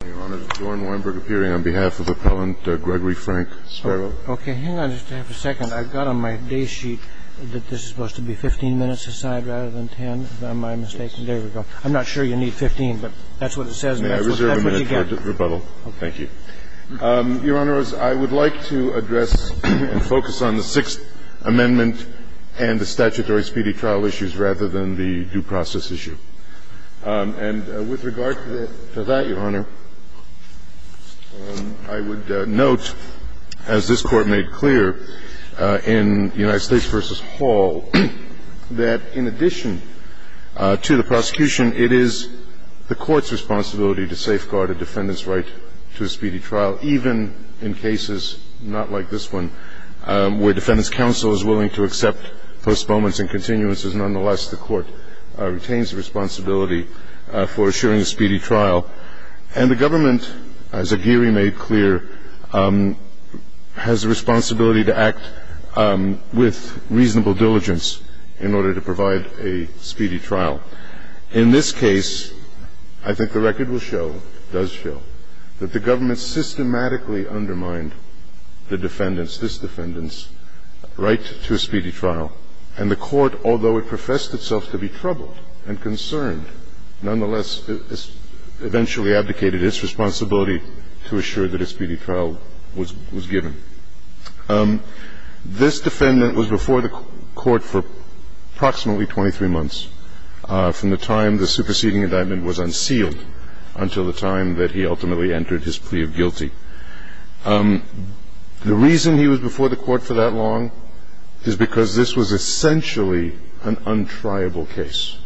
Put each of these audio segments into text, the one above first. Okay, hang on just a second. I've got on my day sheet that this is supposed to be 15 minutes aside rather than 10, if I'm not mistaken. There we go. I'm not sure you need 15, but that's what it says, and that's what you get. May I reserve a minute for rebuttal? Thank you. Your Honor, I would like to address and focus on the Sixth Amendment and the statutory speedy trial issues rather than the due process issue. And with regard to that, Your Honor, I would note, as this Court made clear in United States v. Hall, that in addition to the prosecution, it is the Court's responsibility to safeguard a defendant's right to a speedy trial, even in cases not like this one, where defendant's counsel is willing to accept postponements and continuances. Nonetheless, the Court retains the responsibility for assuring a speedy trial. And the Government, as Aguirre made clear, has a responsibility to act with reasonable diligence in order to provide a speedy trial. In this case, I think the record will show, does show, that the Government systematically undermined the defendant's, this defendant's, right to a speedy trial. And the Court, although it professed itself to be troubled and concerned, nonetheless, eventually abdicated its responsibility to assure that a speedy trial was given. This defendant was before the Court for approximately 23 months, from the time the superseding indictment was unsealed until the time that he ultimately entered his plea of guilty. The reason he was before the Court for that long is because this was essentially an untriable case.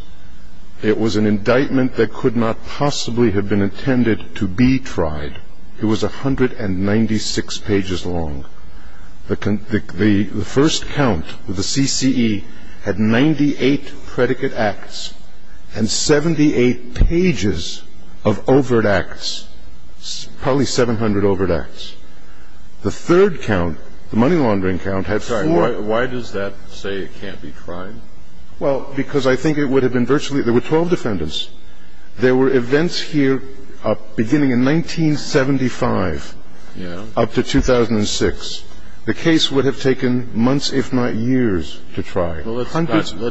It was an indictment that could not possibly have been intended to be tried. It was 196 pages long. The first count, the CCE, had 98 predicate acts and 78 pages of overt acts, probably 700 overt acts. The third count, the money laundering count, had four. Why does that say it can't be tried? Well, because I think it would have been virtually – there were 12 defendants. There were events here beginning in 1975 up to 2006. The case would have taken months, if not years, to try. Well, let's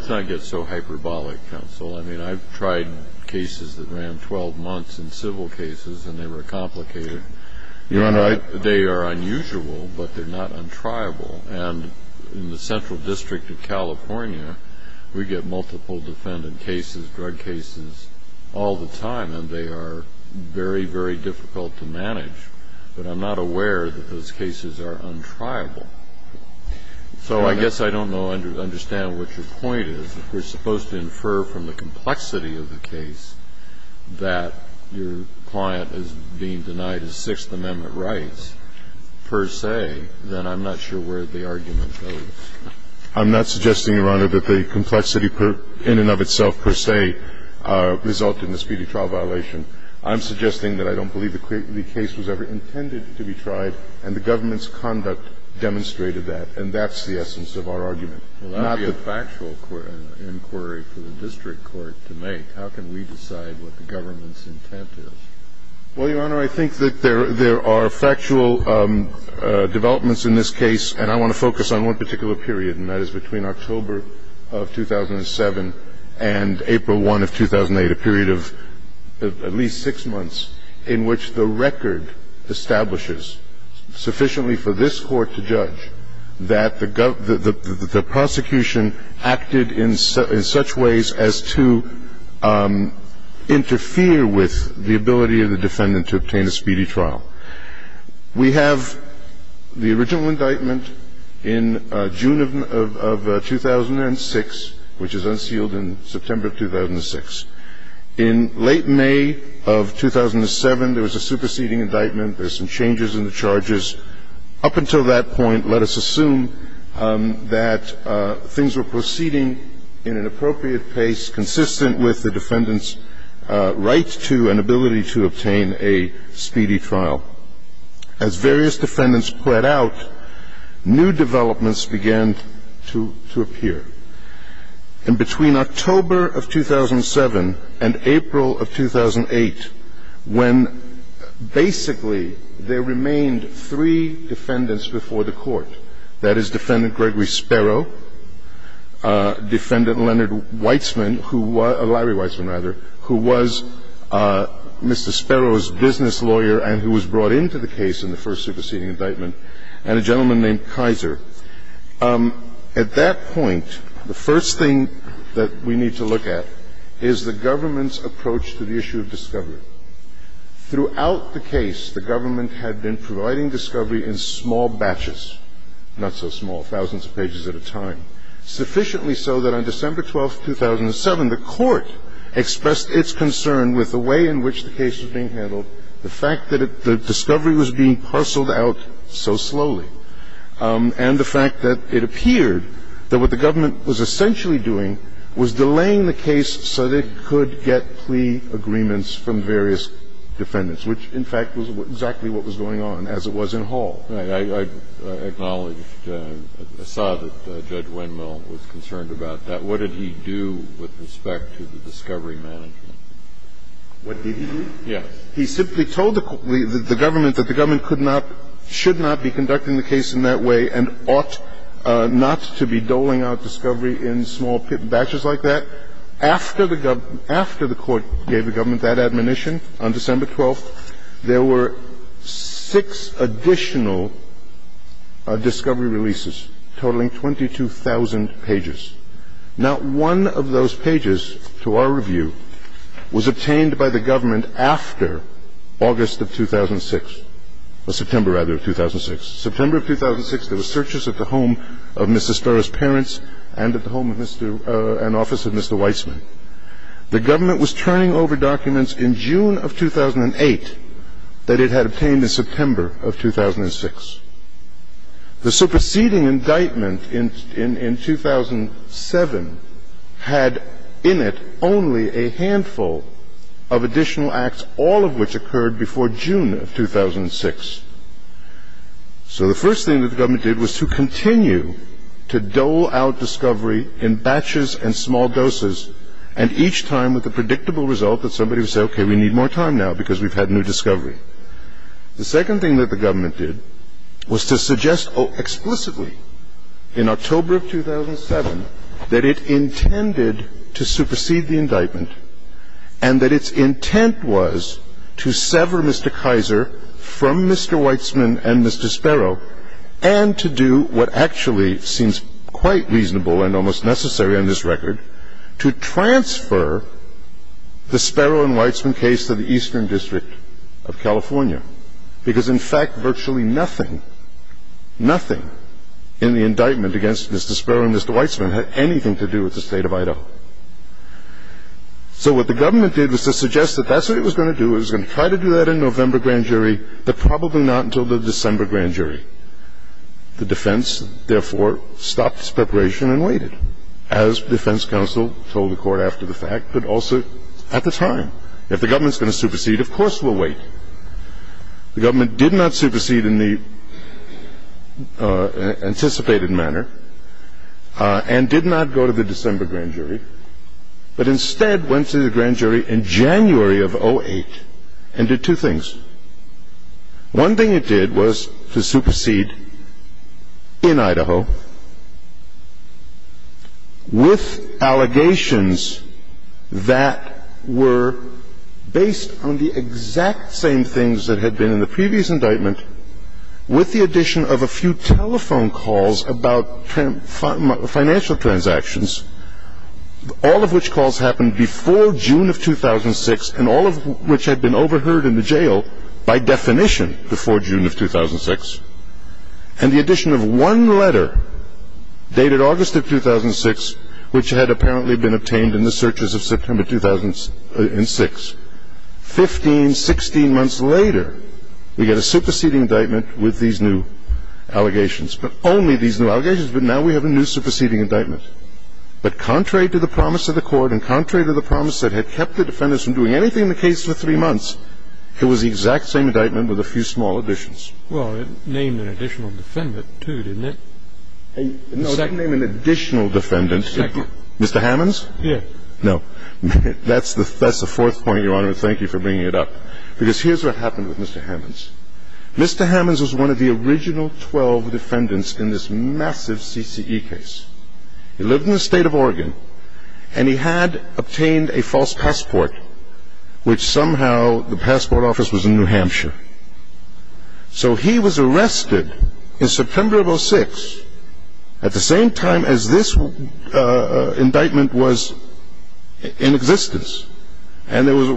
not get so hyperbolic, counsel. I mean, I've tried cases that ran 12 months in civil cases, and they were complicated. Your Honor, I – They are unusual, but they're not untriable. And in the Central District of California, we get multiple defendant cases, drug cases, all the time, and they are very, very difficult to manage. But I'm not aware that those cases are untriable. So I guess I don't know – understand what your point is. If we're supposed to infer from the complexity of the case that your client is being denied his Sixth Amendment rights per se, then I'm not sure where the argument goes. I'm not suggesting, Your Honor, that the complexity in and of itself per se resulted in a speedy trial violation. I'm suggesting that I don't believe the case was ever intended to be tried, and the government's conduct demonstrated that. And that's the essence of our argument. Well, that would be a factual inquiry for the district court to make. How can we decide what the government's intent is? Well, Your Honor, I think that there are factual developments in this case, and I want to focus on one particular period, and that is between October of 2007 and April 1 of 2008, a period of at least six months in which the record establishes sufficiently for this court to judge that the prosecution acted in such ways as to interfere with the ability of the defendant to obtain a speedy trial. We have the original indictment in June of 2006, which is unsealed in September of 2006. In late May of 2007, there was a superseding indictment. And it was up until that point, let us assume, that things were proceeding in an appropriate pace, consistent with the defendant's right to and ability to obtain a speedy trial. As various defendants quit out, new developments began to appear. And between October of 2007 and April of 2008, when basically there remained three defendants before the court, that is Defendant Gregory Sparrow, Defendant Larry Weitzman, who was Mr. Sparrow's business lawyer and who was brought into the case in the first superseding indictment, and a gentleman named Kaiser. At that point, the first thing that we need to look at is the government's approach to the issue of discovery. Throughout the case, the government had been providing discovery in small batches, not so small, thousands of pages at a time, sufficiently so that on December 12, 2007, the court expressed its concern with the way in which the case was being handled, the fact that the discovery was being parceled out so slowly. And the fact that it appeared that what the government was essentially doing was delaying the case so that it could get plea agreements from various defendants, which, in fact, was exactly what was going on, as it was in Hall. Right. I acknowledged or saw that Judge Wendell was concerned about that. What did he do with respect to the discovery management? What did he do? Yes. He simply told the government that the government could not, should not be conducting the case in that way and ought not to be doling out discovery in small batches like that. After the government — after the court gave the government that admonition on December 12, there were six additional discovery releases, totaling 22,000 pages. Not one of those pages, to our review, was obtained by the government after August of 2006. Or September, rather, of 2006. September of 2006, there were searches at the home of Mr. Stura's parents and at the home of Mr. — and office of Mr. Weitzman. The government was turning over documents in June of 2008 that it had obtained in September of 2006. The superseding indictment in 2007 had in it only a handful of additional acts, all of which occurred before June of 2006. So the first thing that the government did was to continue to dole out discovery in batches and small doses, and each time with a predictable result that somebody would say, okay, we need more time now because we've had new discovery. The second thing that the government did was to suggest explicitly in October of 2007 that it intended to supersede the indictment and that its intent was to sever Mr. Kaiser from Mr. Weitzman and Mr. Sparrow and to do what actually seems quite reasonable and almost necessary on this record, to transfer the Sparrow and Weitzman case to the Eastern District of California. Because, in fact, virtually nothing, nothing in the indictment against Mr. Sparrow and Mr. Weitzman had anything to do with the State of Idaho. So what the government did was to suggest that that's what it was going to do, it was going to try to do that in November grand jury, but probably not until the December grand jury. The defense, therefore, stopped its preparation and waited, as defense counsel told the court after the fact, but also at the time. If the government's going to supersede, of course we'll wait. The government did not supersede in the anticipated manner and did not go to the December grand jury, but instead went to the grand jury in January of 2008 and did two things. One thing it did was to supersede in Idaho with allegations that were based on the exact same things that had been in the previous indictment with the addition of a few telephone calls about financial transactions, all of which calls happened before June of 2006 and all of which had been overheard in the jail by definition before June of 2006, and the addition of one letter dated August of 2006, which had apparently been obtained in the searches of September 2006. Fifteen, sixteen months later, we get a superseding indictment with these new allegations, but only these new allegations, but now we have a new superseding indictment. But contrary to the promise of the court and contrary to the promise that had kept the defendants from doing anything in the case for three months, it was the exact same indictment with a few small additions. Well, it named an additional defendant, too, didn't it? No, it didn't name an additional defendant. Mr. Hammons? Yes. No. That's the fourth point, Your Honor, and thank you for bringing it up, because here's what happened with Mr. Hammons. Mr. Hammons was one of the original 12 defendants in this massive CCE case. He lived in the state of Oregon, and he had obtained a false passport, which somehow the passport office was in New Hampshire. So he was arrested in September of 2006 at the same time as this indictment was in existence, and there was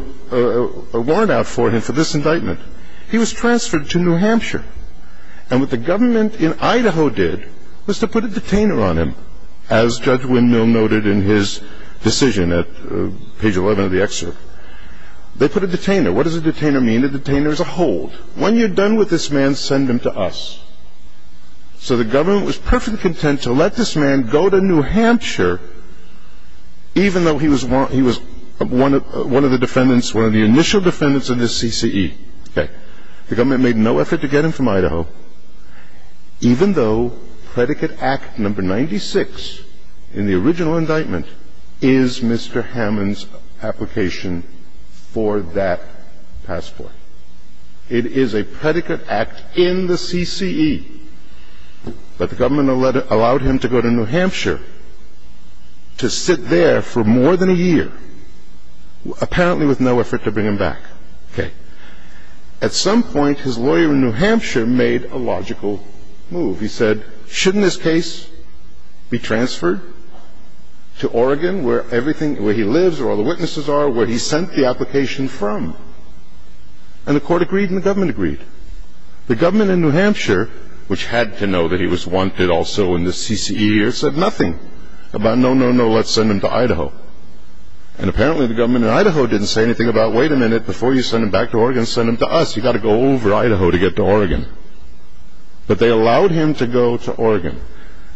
a warrant out for him for this indictment. He was transferred to New Hampshire, and what the government in Idaho did was to put a detainer on him, as Judge Wynn Mill noted in his decision at page 11 of the excerpt. They put a detainer. What does a detainer mean? A detainer is a hold. When you're done with this man, send him to us. So the government was perfectly content to let this man go to New Hampshire, even though he was one of the defendants, one of the initial defendants of this CCE. Okay. The government made no effort to get him from Idaho, even though predicate act number 96 in the original indictment is Mr. Hammons' application for that passport. It is a predicate act in the CCE, but the government allowed him to go to New Hampshire to sit there for more than a year, apparently with no effort to bring him back. Okay. At some point, his lawyer in New Hampshire made a logical move. He said, shouldn't this case be transferred to Oregon, where everything, where he lives, where all the witnesses are, where he sent the application from? And the court agreed and the government agreed. The government in New Hampshire, which had to know that he was wanted also in the CCE, said nothing about, no, no, no, let's send him to Idaho. And apparently the government in Idaho didn't say anything about, wait a minute, before you send him back to Oregon, send him to us. You've got to go over Idaho to get to Oregon. But they allowed him to go to Oregon.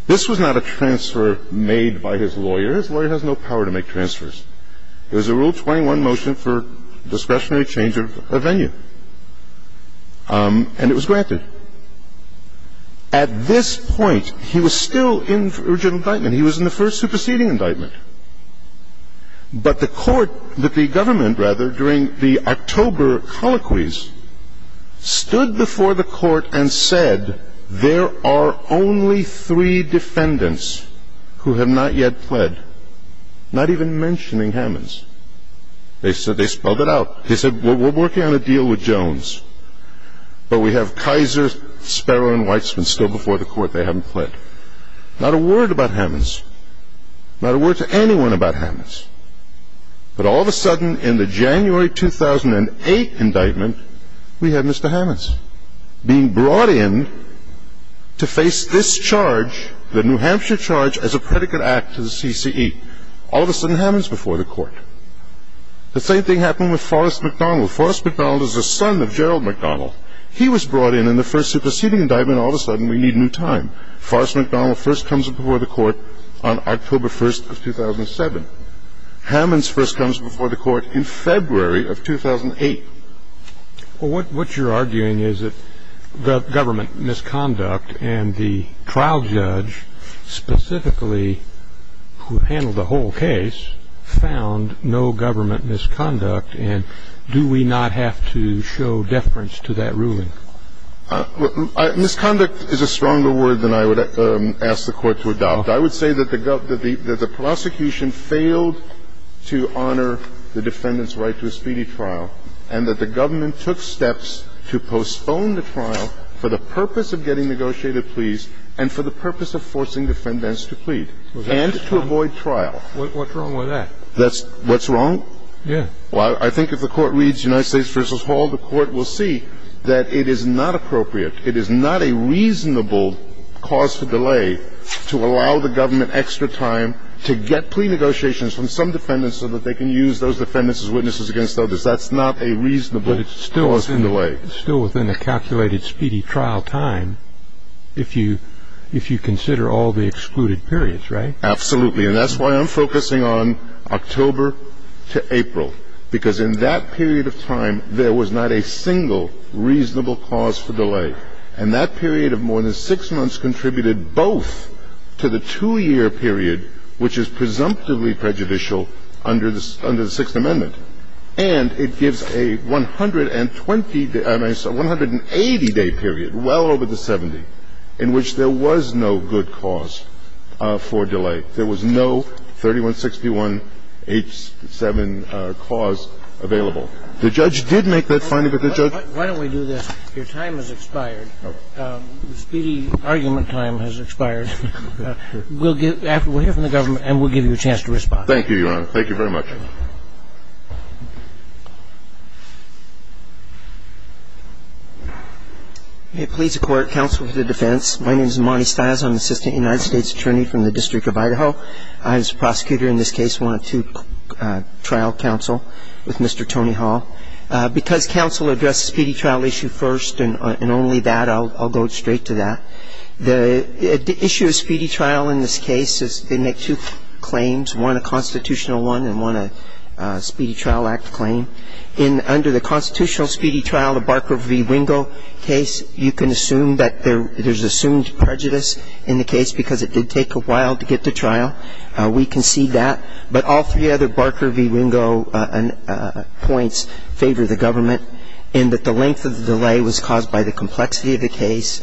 This was not a transfer made by his lawyer. His lawyer has no power to make transfers. It was a Rule 21 motion for discretionary change of venue. And it was granted. At this point, he was still in original indictment. He was in the first superseding indictment. But the court, the government, rather, during the October colloquies, stood before the court and said, there are only three defendants who have not yet pled, not even mentioning Hammonds. They said, they spelled it out. They said, we're working on a deal with Jones. But we have Kaiser, Sparrow, and Weitzman still before the court. They haven't pled. Not a word about Hammonds. Not a word to anyone about Hammonds. But all of a sudden, in the January 2008 indictment, we had Mr. Hammonds being brought in to face this charge, the New Hampshire charge, as a predicate act to the CCE. All of a sudden, Hammonds before the court. The same thing happened with Forrest MacDonald. Forrest MacDonald is the son of Gerald MacDonald. He was brought in in the first superseding indictment. All of a sudden, we need new time. Forrest MacDonald first comes before the court on October 1st of 2007. Hammonds first comes before the court in February of 2008. Well, what you're arguing is that the government misconduct and the trial judge, specifically, who handled the whole case, found no government misconduct. And do we not have to show deference to that ruling? Misconduct is a stronger word than I would ask the court to adopt. I would say that the prosecution failed to honor the defendant's right to a speedy trial and that the government took steps to postpone the trial for the purpose of getting negotiated pleas and for the purpose of forcing defendants to plead and to avoid trial. What's wrong with that? What's wrong? Yeah. Well, I think if the court reads United States v. Hall, the court will see that it is not appropriate. It is not a reasonable cause for delay to allow the government extra time to get plea negotiations from some defendants so that they can use those defendants as witnesses against others. That's not a reasonable cause for delay. It's still within the calculated speedy trial time if you consider all the excluded periods, right? Absolutely. And that's why I'm focusing on October to April, because in that period of time there was not a single reasonable cause for delay. And that period of more than six months contributed both to the two-year period, which is presumptively prejudicial under the Sixth Amendment, and it gives a 120-day – I'm sorry, 180-day period, well over the 70, in which there was no good cause for delay. There was no 3161H7 cause available. The judge did make that finding, but the judge – Why don't we do this? Your time has expired. The speedy argument time has expired. We'll give – we'll hear from the government and we'll give you a chance to respond. Thank you, Your Honor. Thank you very much. Thank you. May it please the Court. Counsel to the defense. My name is Monty Stiles. I'm an assistant United States attorney from the District of Idaho. I, as a prosecutor in this case, want to trial counsel with Mr. Tony Hall. Because counsel addressed the speedy trial issue first and only that, I'll go straight to that. The issue of speedy trial in this case is they make two claims, one a constitutional one and one a Speedy Trial Act claim. Under the constitutional speedy trial, the Barker v. Wingo case, you can assume that there's assumed prejudice in the case because it did take a while to get to trial. We concede that. But all three other Barker v. Wingo points favor the government in that the length of the delay was caused by the complexity of the case,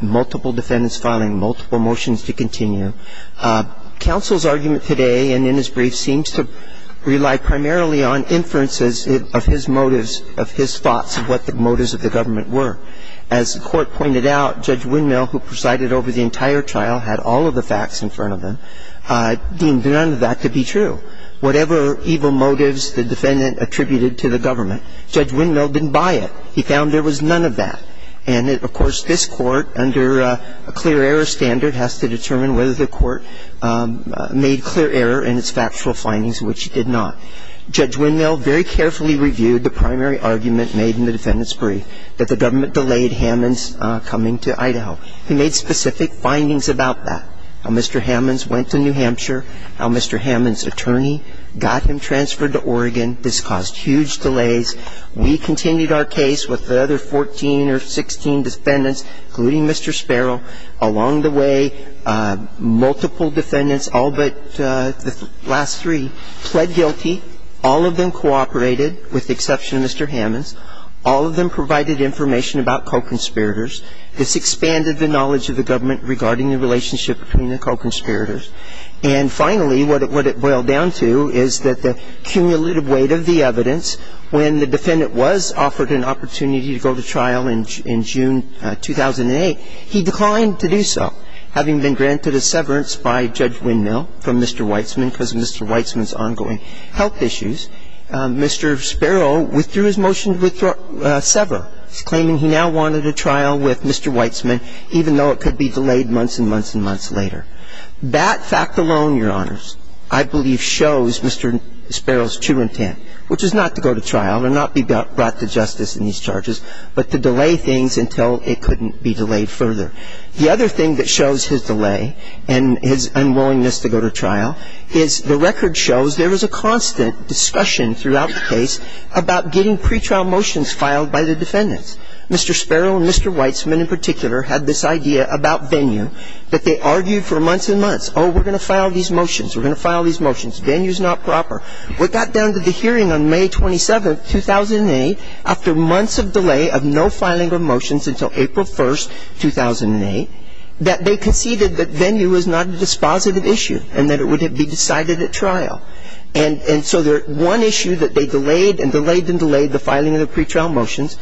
multiple defendants filing multiple motions to continue. Counsel's argument today and in his brief seems to rely primarily on inferences of his motives, of his thoughts of what the motives of the government were. As the Court pointed out, Judge Windmill, who presided over the entire trial, had all of the facts in front of him, deemed none of that to be true. Whatever evil motives the defendant attributed to the government, Judge Windmill didn't buy it. He found there was none of that. And, of course, this Court, under a clear error standard, has to determine whether the Court made clear error in its factual findings, which it did not. Judge Windmill very carefully reviewed the primary argument made in the defendant's brief, that the government delayed Hammons' coming to Idaho. He made specific findings about that, how Mr. Hammons went to New Hampshire, how Mr. Hammons' attorney got him transferred to Oregon. This caused huge delays. We continued our case with the other 14 or 16 defendants, including Mr. Sparrow. Along the way, multiple defendants, all but the last three, pled guilty. All of them cooperated, with the exception of Mr. Hammons. All of them provided information about co-conspirators. This expanded the knowledge of the government regarding the relationship between the co-conspirators. And, finally, what it boiled down to is that the cumulative weight of the evidence when the defendant was offered an opportunity to go to trial in June 2008, he declined to do so. Having been granted a severance by Judge Windmill from Mr. Weitzman, because of Mr. Weitzman's ongoing health issues, Mr. Sparrow withdrew his motion to sever, claiming he now wanted a trial with Mr. Weitzman, even though it could be delayed months and months and months later. That fact alone, Your Honors, I believe shows Mr. Sparrow's true intent, which is not to go to trial and not be brought to justice in these charges, but to delay things until it couldn't be delayed further. The other thing that shows his delay and his unwillingness to go to trial is the record shows there was a constant discussion throughout the case about getting pretrial motions filed by the defendants. Mr. Sparrow and Mr. Weitzman in particular had this idea about venue that they argued for months and months. Oh, we're going to file these motions. We're going to file these motions. Venue's not proper. What got down to the hearing on May 27th, 2008, after months of delay of no filing of motions until April 1st, 2008, that they conceded that venue was not a dispositive issue and that it would be decided at trial. And so one issue that they delayed and delayed and delayed, the filing of the pretrial motions,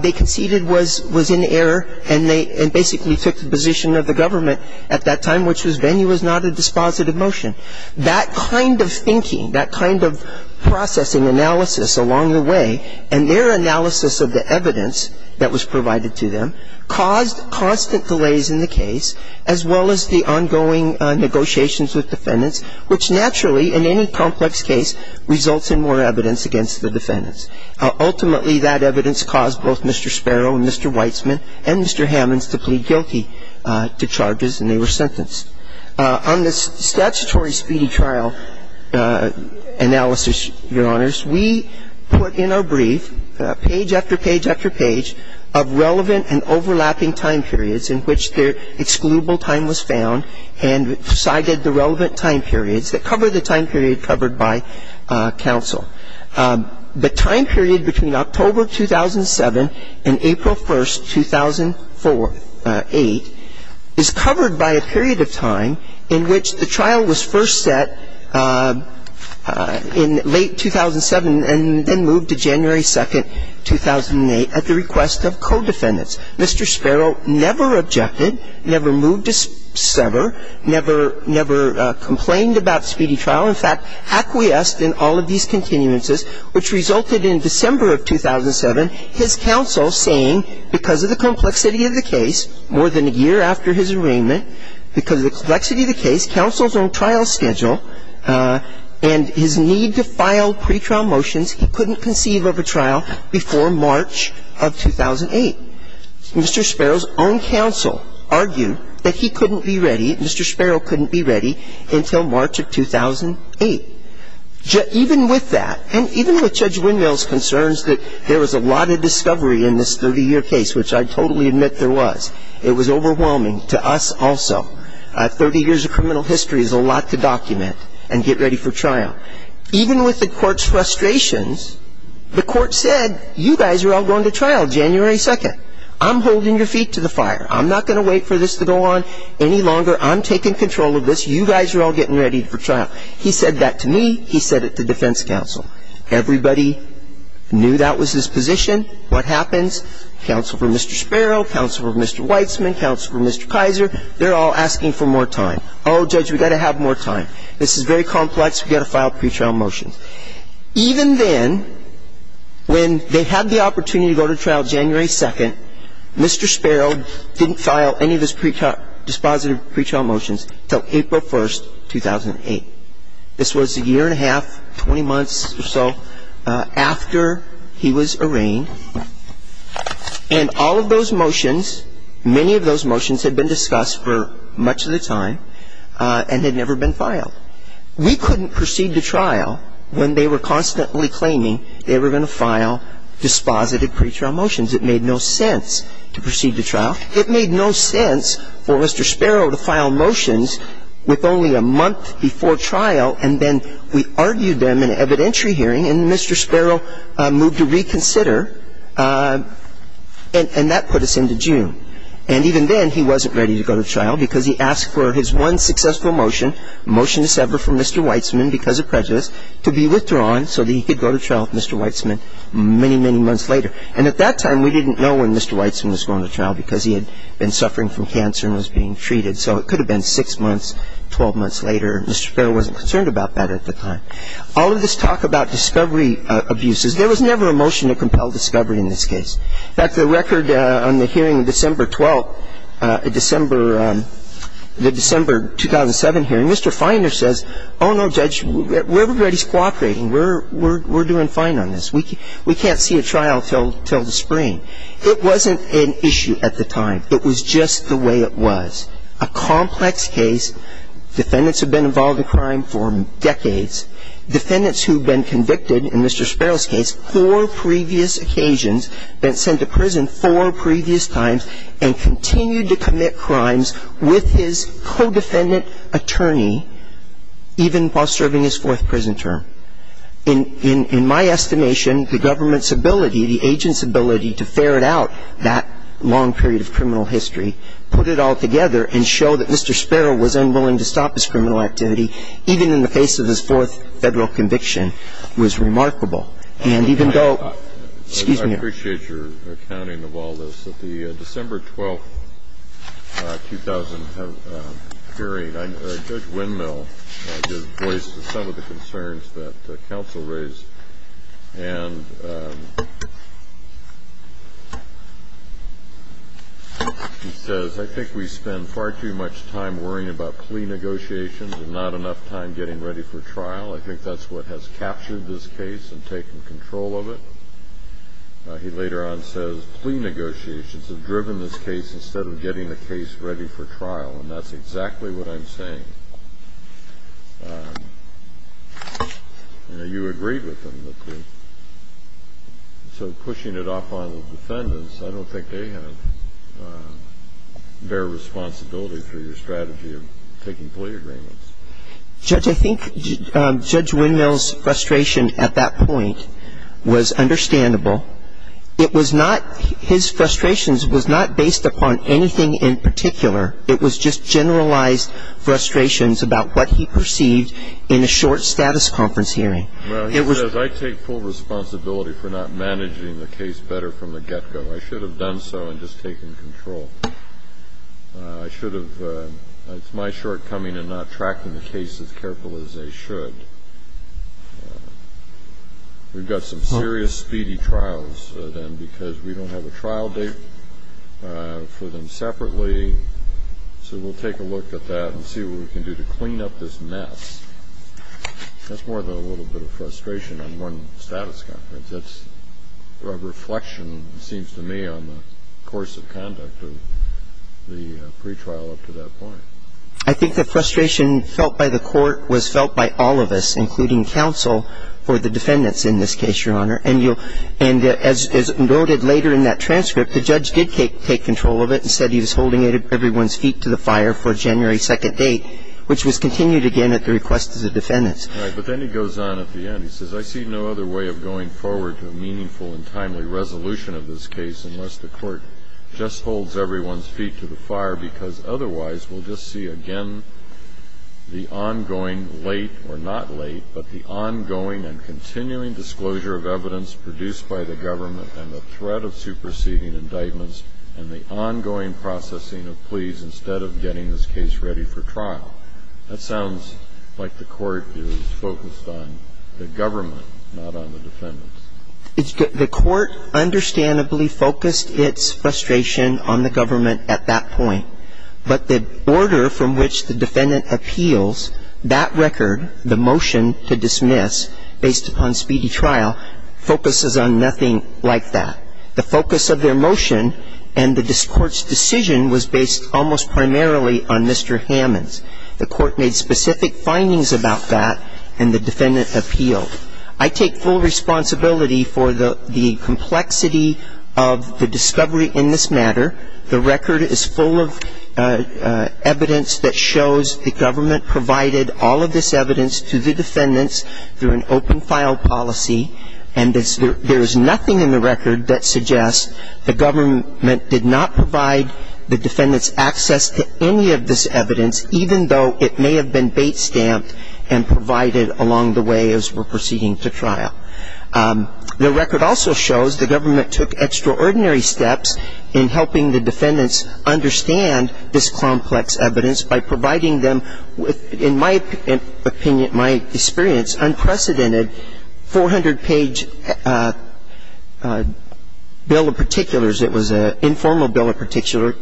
they conceded was in error and they basically took the position of the government at that time, which was venue was not a dispositive motion. That kind of thinking, that kind of processing analysis along the way, and their analysis of the evidence that was provided to them caused constant delays in the case, as well as the ongoing negotiations with defendants, which naturally in any complex case results in more evidence against the defendants. Ultimately, that evidence caused both Mr. Sparrow and Mr. Weitzman and Mr. Hammons to plead guilty to charges and they were sentenced. On the statutory speedy trial analysis, Your Honors, we put in our brief page after page after page of relevant and overlapping time periods in which their excludable time was found and cited the relevant time periods that cover the time period covered by counsel. The time period between October 2007 and April 1st, 2004, 2008, is covered by a period of time in which the trial was first set in late 2007 and then moved to January 2nd, 2008 at the request of co-defendants. Mr. Sparrow never objected, never moved to sever, never complained about speedy trial. In fact, acquiesced in all of these continuances, which resulted in December of 2007, his counsel saying because of the complexity of the case, more than a year after his arraignment, because of the complexity of the case, counsel's own trial schedule and his need to file pretrial motions, he couldn't conceive of a trial before March of 2008. Mr. Sparrow's own counsel argued that he couldn't be ready, Mr. Sparrow couldn't be ready until March of 2008. Even with that, and even with Judge Windmill's concerns that there was a lot of discovery in this 30-year case, which I totally admit there was, it was overwhelming to us also. 30 years of criminal history is a lot to document and get ready for trial. Even with the court's frustrations, the court said you guys are all going to trial January 2nd. I'm holding your feet to the fire. I'm not going to wait for this to go on any longer. I'm taking control of this. You guys are all getting ready for trial. He said that to me. He said it to defense counsel. Everybody knew that was his position. What happens? Counsel for Mr. Sparrow, counsel for Mr. Weitzman, counsel for Mr. Kaiser, they're all asking for more time. Oh, Judge, we've got to have more time. This is very complex. We've got to file pretrial motions. Even then, when they had the opportunity to go to trial January 2nd, Mr. Sparrow didn't file any of his dispositive pretrial motions until April 1st, 2008. This was a year and a half, 20 months or so after he was arraigned. And all of those motions, many of those motions had been discussed for much of the time and had never been filed. We couldn't proceed to trial when they were constantly claiming they were going to file dispositive pretrial motions. It made no sense to proceed to trial. It made no sense for Mr. Sparrow to file motions with only a month before trial, and then we argued them in an evidentiary hearing, and Mr. Sparrow moved to reconsider, and that put us into June. And even then, he wasn't ready to go to trial because he asked for his one successful motion, motion to sever from Mr. Weitzman because of prejudice, to be withdrawn so that he could go to trial with Mr. Weitzman many, many months later. And at that time, we didn't know when Mr. Weitzman was going to trial because he had been suffering from cancer and was being treated. So it could have been 6 months, 12 months later. Mr. Sparrow wasn't concerned about that at the time. All of this talk about discovery abuses, there was never a motion to compel discovery in this case. In fact, the record on the hearing of December 12th, December, the December 2007 hearing, Mr. Feiner says, oh, no, Judge, everybody's cooperating. We're doing fine on this. We can't see a trial until the spring. It wasn't an issue at the time. It was just the way it was. A complex case. Defendants have been involved in crime for decades. Defendants who have been convicted in Mr. Sparrow's case four previous occasions, been sent to prison four previous times, and continued to commit crimes with his co-defendant attorney, even while serving his fourth prison term. In my estimation, the government's ability, the agent's ability to ferret out that long period of criminal history, put it all together and show that Mr. Sparrow was unwilling to stop his criminal activity, even in the face of his fourth federal conviction, was remarkable. And even though, excuse me. I appreciate your accounting of all this. At the December 12, 2000 hearing, Judge Windmill voiced some of the concerns that counsel raised. And he says, I think we spend far too much time worrying about plea negotiations and not enough time getting ready for trial. I think that's what has captured this case and taken control of it. He later on says, plea negotiations have driven this case instead of getting the case ready for trial. And that's exactly what I'm saying. You know, you agreed with him that the so pushing it off on the defendants, I don't think they have their responsibility for your strategy of taking plea agreements. Judge, I think Judge Windmill's frustration at that point was understandable. It was not his frustrations was not based upon anything in particular. It was just generalized frustrations about what he perceived in a short status conference hearing. Well, he says, I take full responsibility for not managing the case better from the get-go. I should have done so and just taken control. I should have. It's my shortcoming in not tracking the case as carefully as they should. We've got some serious speedy trials then because we don't have a trial date for them separately. So we'll take a look at that and see what we can do to clean up this mess. That's more than a little bit of frustration on one status conference. That's a reflection, it seems to me, on the course of conduct of the pretrial up to that point. I think the frustration felt by the court was felt by all of us, including counsel for the defendants in this case, Your Honor. And as noted later in that transcript, the judge did take control of it and said he was holding everyone's feet to the fire for January 2nd date, which was continued again at the request of the defendants. Right. But then he goes on at the end. He says, I see no other way of going forward to a meaningful and timely resolution of this case unless the court just holds everyone's feet to the fire, because otherwise we'll just see again the ongoing late or not late, but the ongoing and continuing disclosure of evidence produced by the government and the threat of superseding indictments and the ongoing processing of pleas instead of getting this case ready for trial. Well, that sounds like the court is focused on the government, not on the defendants. The court understandably focused its frustration on the government at that point. But the order from which the defendant appeals that record, the motion to dismiss based upon speedy trial, focuses on nothing like that. The focus of their motion and the court's decision was based almost primarily on Mr. Hammond's. The court made specific findings about that and the defendant appealed. I take full responsibility for the complexity of the discovery in this matter. The record is full of evidence that shows the government provided all of this evidence to the defendants through an open file policy, and there is nothing in the record that suggests the government did not provide the complexity of this evidence even though it may have been bait-stamped and provided along the way as we're proceeding to trial. The record also shows the government took extraordinary steps in helping the defendants understand this complex evidence by providing them, in my opinion, my experience, unprecedented 400-page bill of particulars. It was an informal bill of particulars,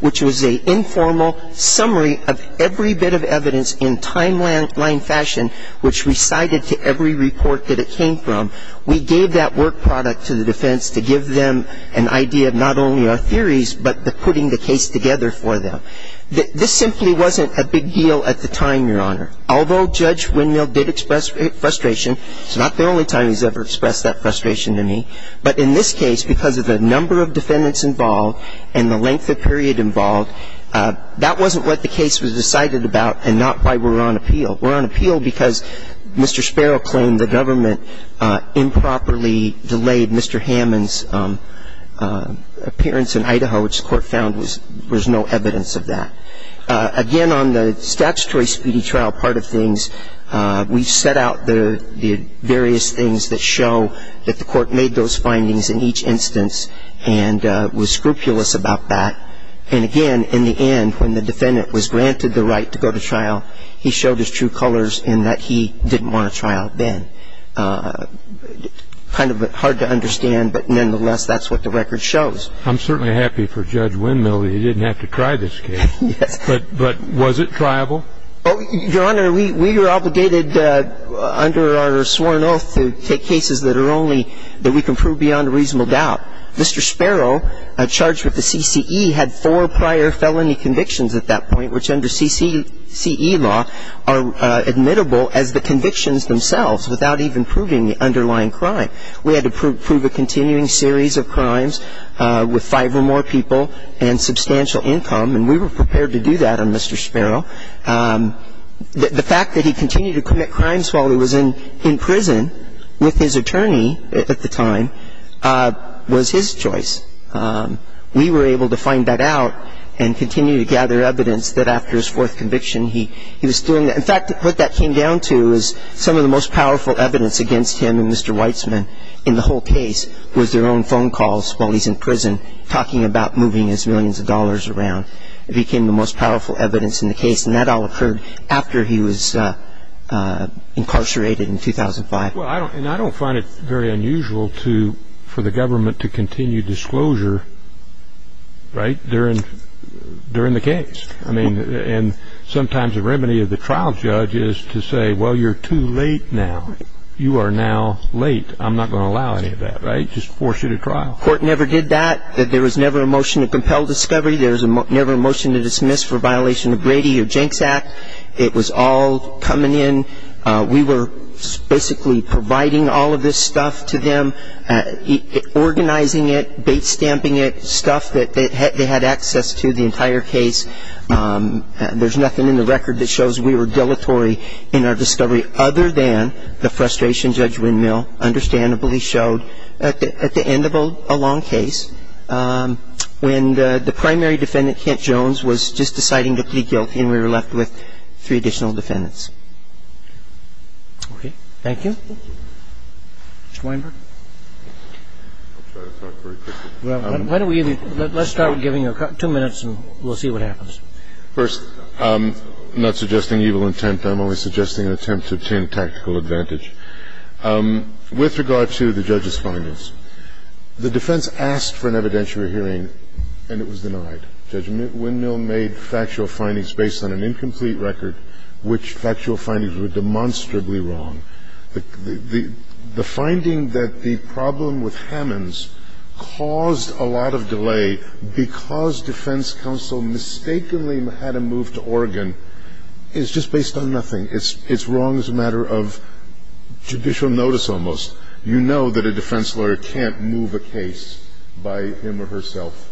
which was an informal summary of every bit of evidence in timeline fashion which recited to every report that it came from. We gave that work product to the defense to give them an idea of not only our theories but the putting the case together for them. This simply wasn't a big deal at the time, Your Honor. Although Judge Windmill did express frustration, it's not the only time he's ever expressed that frustration to me. But in this case, because of the number of defendants involved and the length of period involved, that wasn't what the case was decided about and not why we're on appeal. We're on appeal because Mr. Sparrow claimed the government improperly delayed Mr. Hammond's appearance in Idaho, which the court found was there's no evidence of that. Again, on the statutory speedy trial part of things, we set out the various things that show that the court made those findings in each instance and was scrupulous about that. And again, in the end, when the defendant was granted the right to go to trial, he showed his true colors in that he didn't want a trial then. Kind of hard to understand, but nonetheless, that's what the record shows. I'm certainly happy for Judge Windmill that he didn't have to try this case. Yes. But was it triable? Your Honor, we were obligated under our sworn oath to take cases that are only that we can prove beyond a reasonable doubt. Mr. Sparrow, charged with the CCE, had four prior felony convictions at that point, which under CCE law are admittable as the convictions themselves without even proving the underlying crime. We had to prove a continuing series of crimes with five or more people and substantial income, and we were prepared to do that on Mr. Sparrow. The fact that he continued to commit crimes while he was in prison with his attorney at the time was his choice. We were able to find that out and continue to gather evidence that after his fourth conviction he was doing that. In fact, what that came down to is some of the most powerful evidence against him and Mr. Weitzman in the whole case was their own phone calls while he's in prison talking about moving his millions of dollars around. It became the most powerful evidence in the case, and that all occurred after he was incarcerated in 2005. Well, and I don't find it very unusual for the government to continue disclosure during the case. I mean, and sometimes the remedy of the trial judge is to say, well, you're too late now. You are now late. I'm not going to allow any of that, right? Just force you to trial. The court never did that. There was never a motion to compel discovery. There was never a motion to dismiss for violation of Brady or Jenks Act. It was all coming in. We were basically providing all of this stuff to them, organizing it, bait-stamping it, stuff that they had access to the entire case. There's nothing in the record that shows we were dilatory in our discovery other than the frustration Judge Windmill understandably showed at the end of a long case when the primary defendant, Kent Jones, was just deciding to plead guilty and we were left with three additional defendants. Okay. Thank you. Thank you. Mr. Weinberg. I'll try to talk very quickly. Let's start with giving you two minutes and we'll see what happens. First, I'm not suggesting evil intent. I'm only suggesting an attempt to obtain tactical advantage. With regard to the judge's findings, the defense asked for an evidentiary hearing and it was denied. Judge Windmill made factual findings based on an incomplete record, which factual findings were demonstrably wrong. The finding that the problem with Hammonds caused a lot of delay because defense counsel mistakenly had him moved to Oregon is just based on nothing. It's wrong as a matter of judicial notice almost. You know that a defense lawyer can't move a case by him or herself.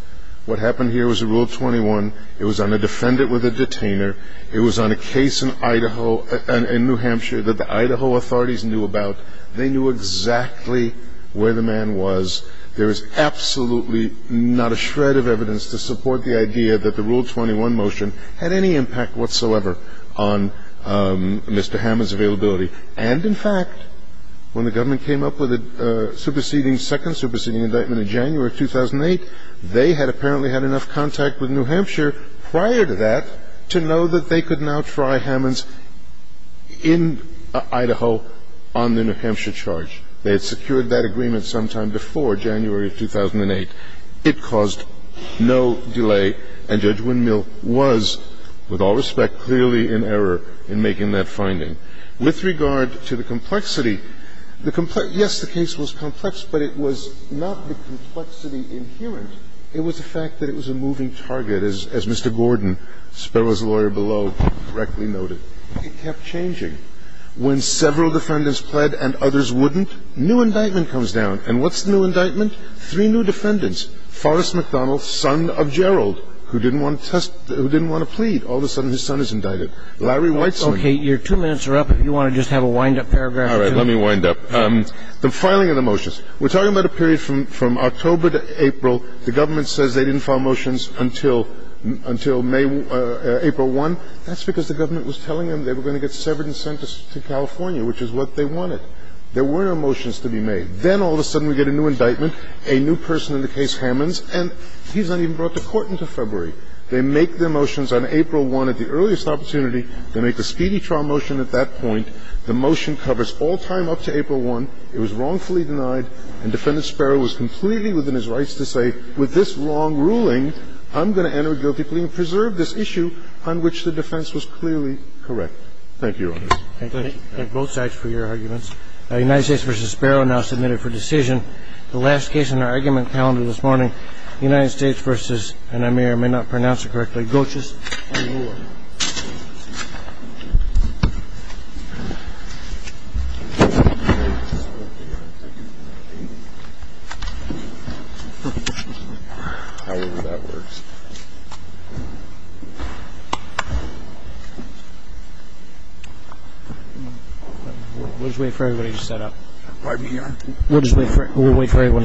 What happened here was Rule 21. It was on a defendant with a detainer. It was on a case in Idaho and New Hampshire that the Idaho authorities knew about. They knew exactly where the man was. There is absolutely not a shred of evidence to support the idea that the Rule 21 motion had any impact whatsoever on Mr. Hammonds' availability. And, in fact, when the government came up with a superseding second, superseding indictment in January of 2008, they had apparently had enough contact with New Hampshire prior to that to know that they could now try Hammonds in Idaho on the New Hampshire charge. They had secured that agreement sometime before January of 2008. It caused no delay, and Judge Windmill was, with all respect, clearly in error in making that finding. With regard to the complexity, yes, the case was complex, but it was not the complexity inherent. It was the fact that it was a moving target, as Mr. Gordon, Sparrow's lawyer below, correctly noted. It kept changing. When several defendants pled and others wouldn't, new indictment comes down. And what's the new indictment? Three new defendants, Forrest McDonald, son of Gerald, who didn't want to plead. All of a sudden his son is indicted. Larry Weitzman. Okay, your two minutes are up. If you want to just have a wind-up paragraph or two. All right, let me wind up. The filing of the motions. We're talking about a period from October to April. The government says they didn't file motions until April 1. That's because the government was telling them they were going to get severed and sent to California, which is what they wanted. There were no motions to be made. Then all of a sudden we get a new indictment, a new person in the case, Hammonds, and he's not even brought to court until February. They make their motions on April 1 at the earliest opportunity. They make the speedy trial motion at that point. The motion covers all time up to April 1. It was wrongfully denied, and Defendant Sparrow was completely within his rights to say, with this wrong ruling, I'm going to enter guilty plea and preserve this issue on which the defense was clearly correct. Thank you, Your Honors. Thank you. Thank you. Thank you. Thank you. Thank you. Thank you. Thank you. Thank you. Thank you. Thank you. Thank you, Mr. Chiu, for your arguments. United States v. Sparrow now submitted for decision. The last case in our argument calendar this morning, United States v. and I may or may not pronounce it correctly, Goetjes v. Moolah. We'll just wait for everybody to set up. We'll just wait for everyone to set up.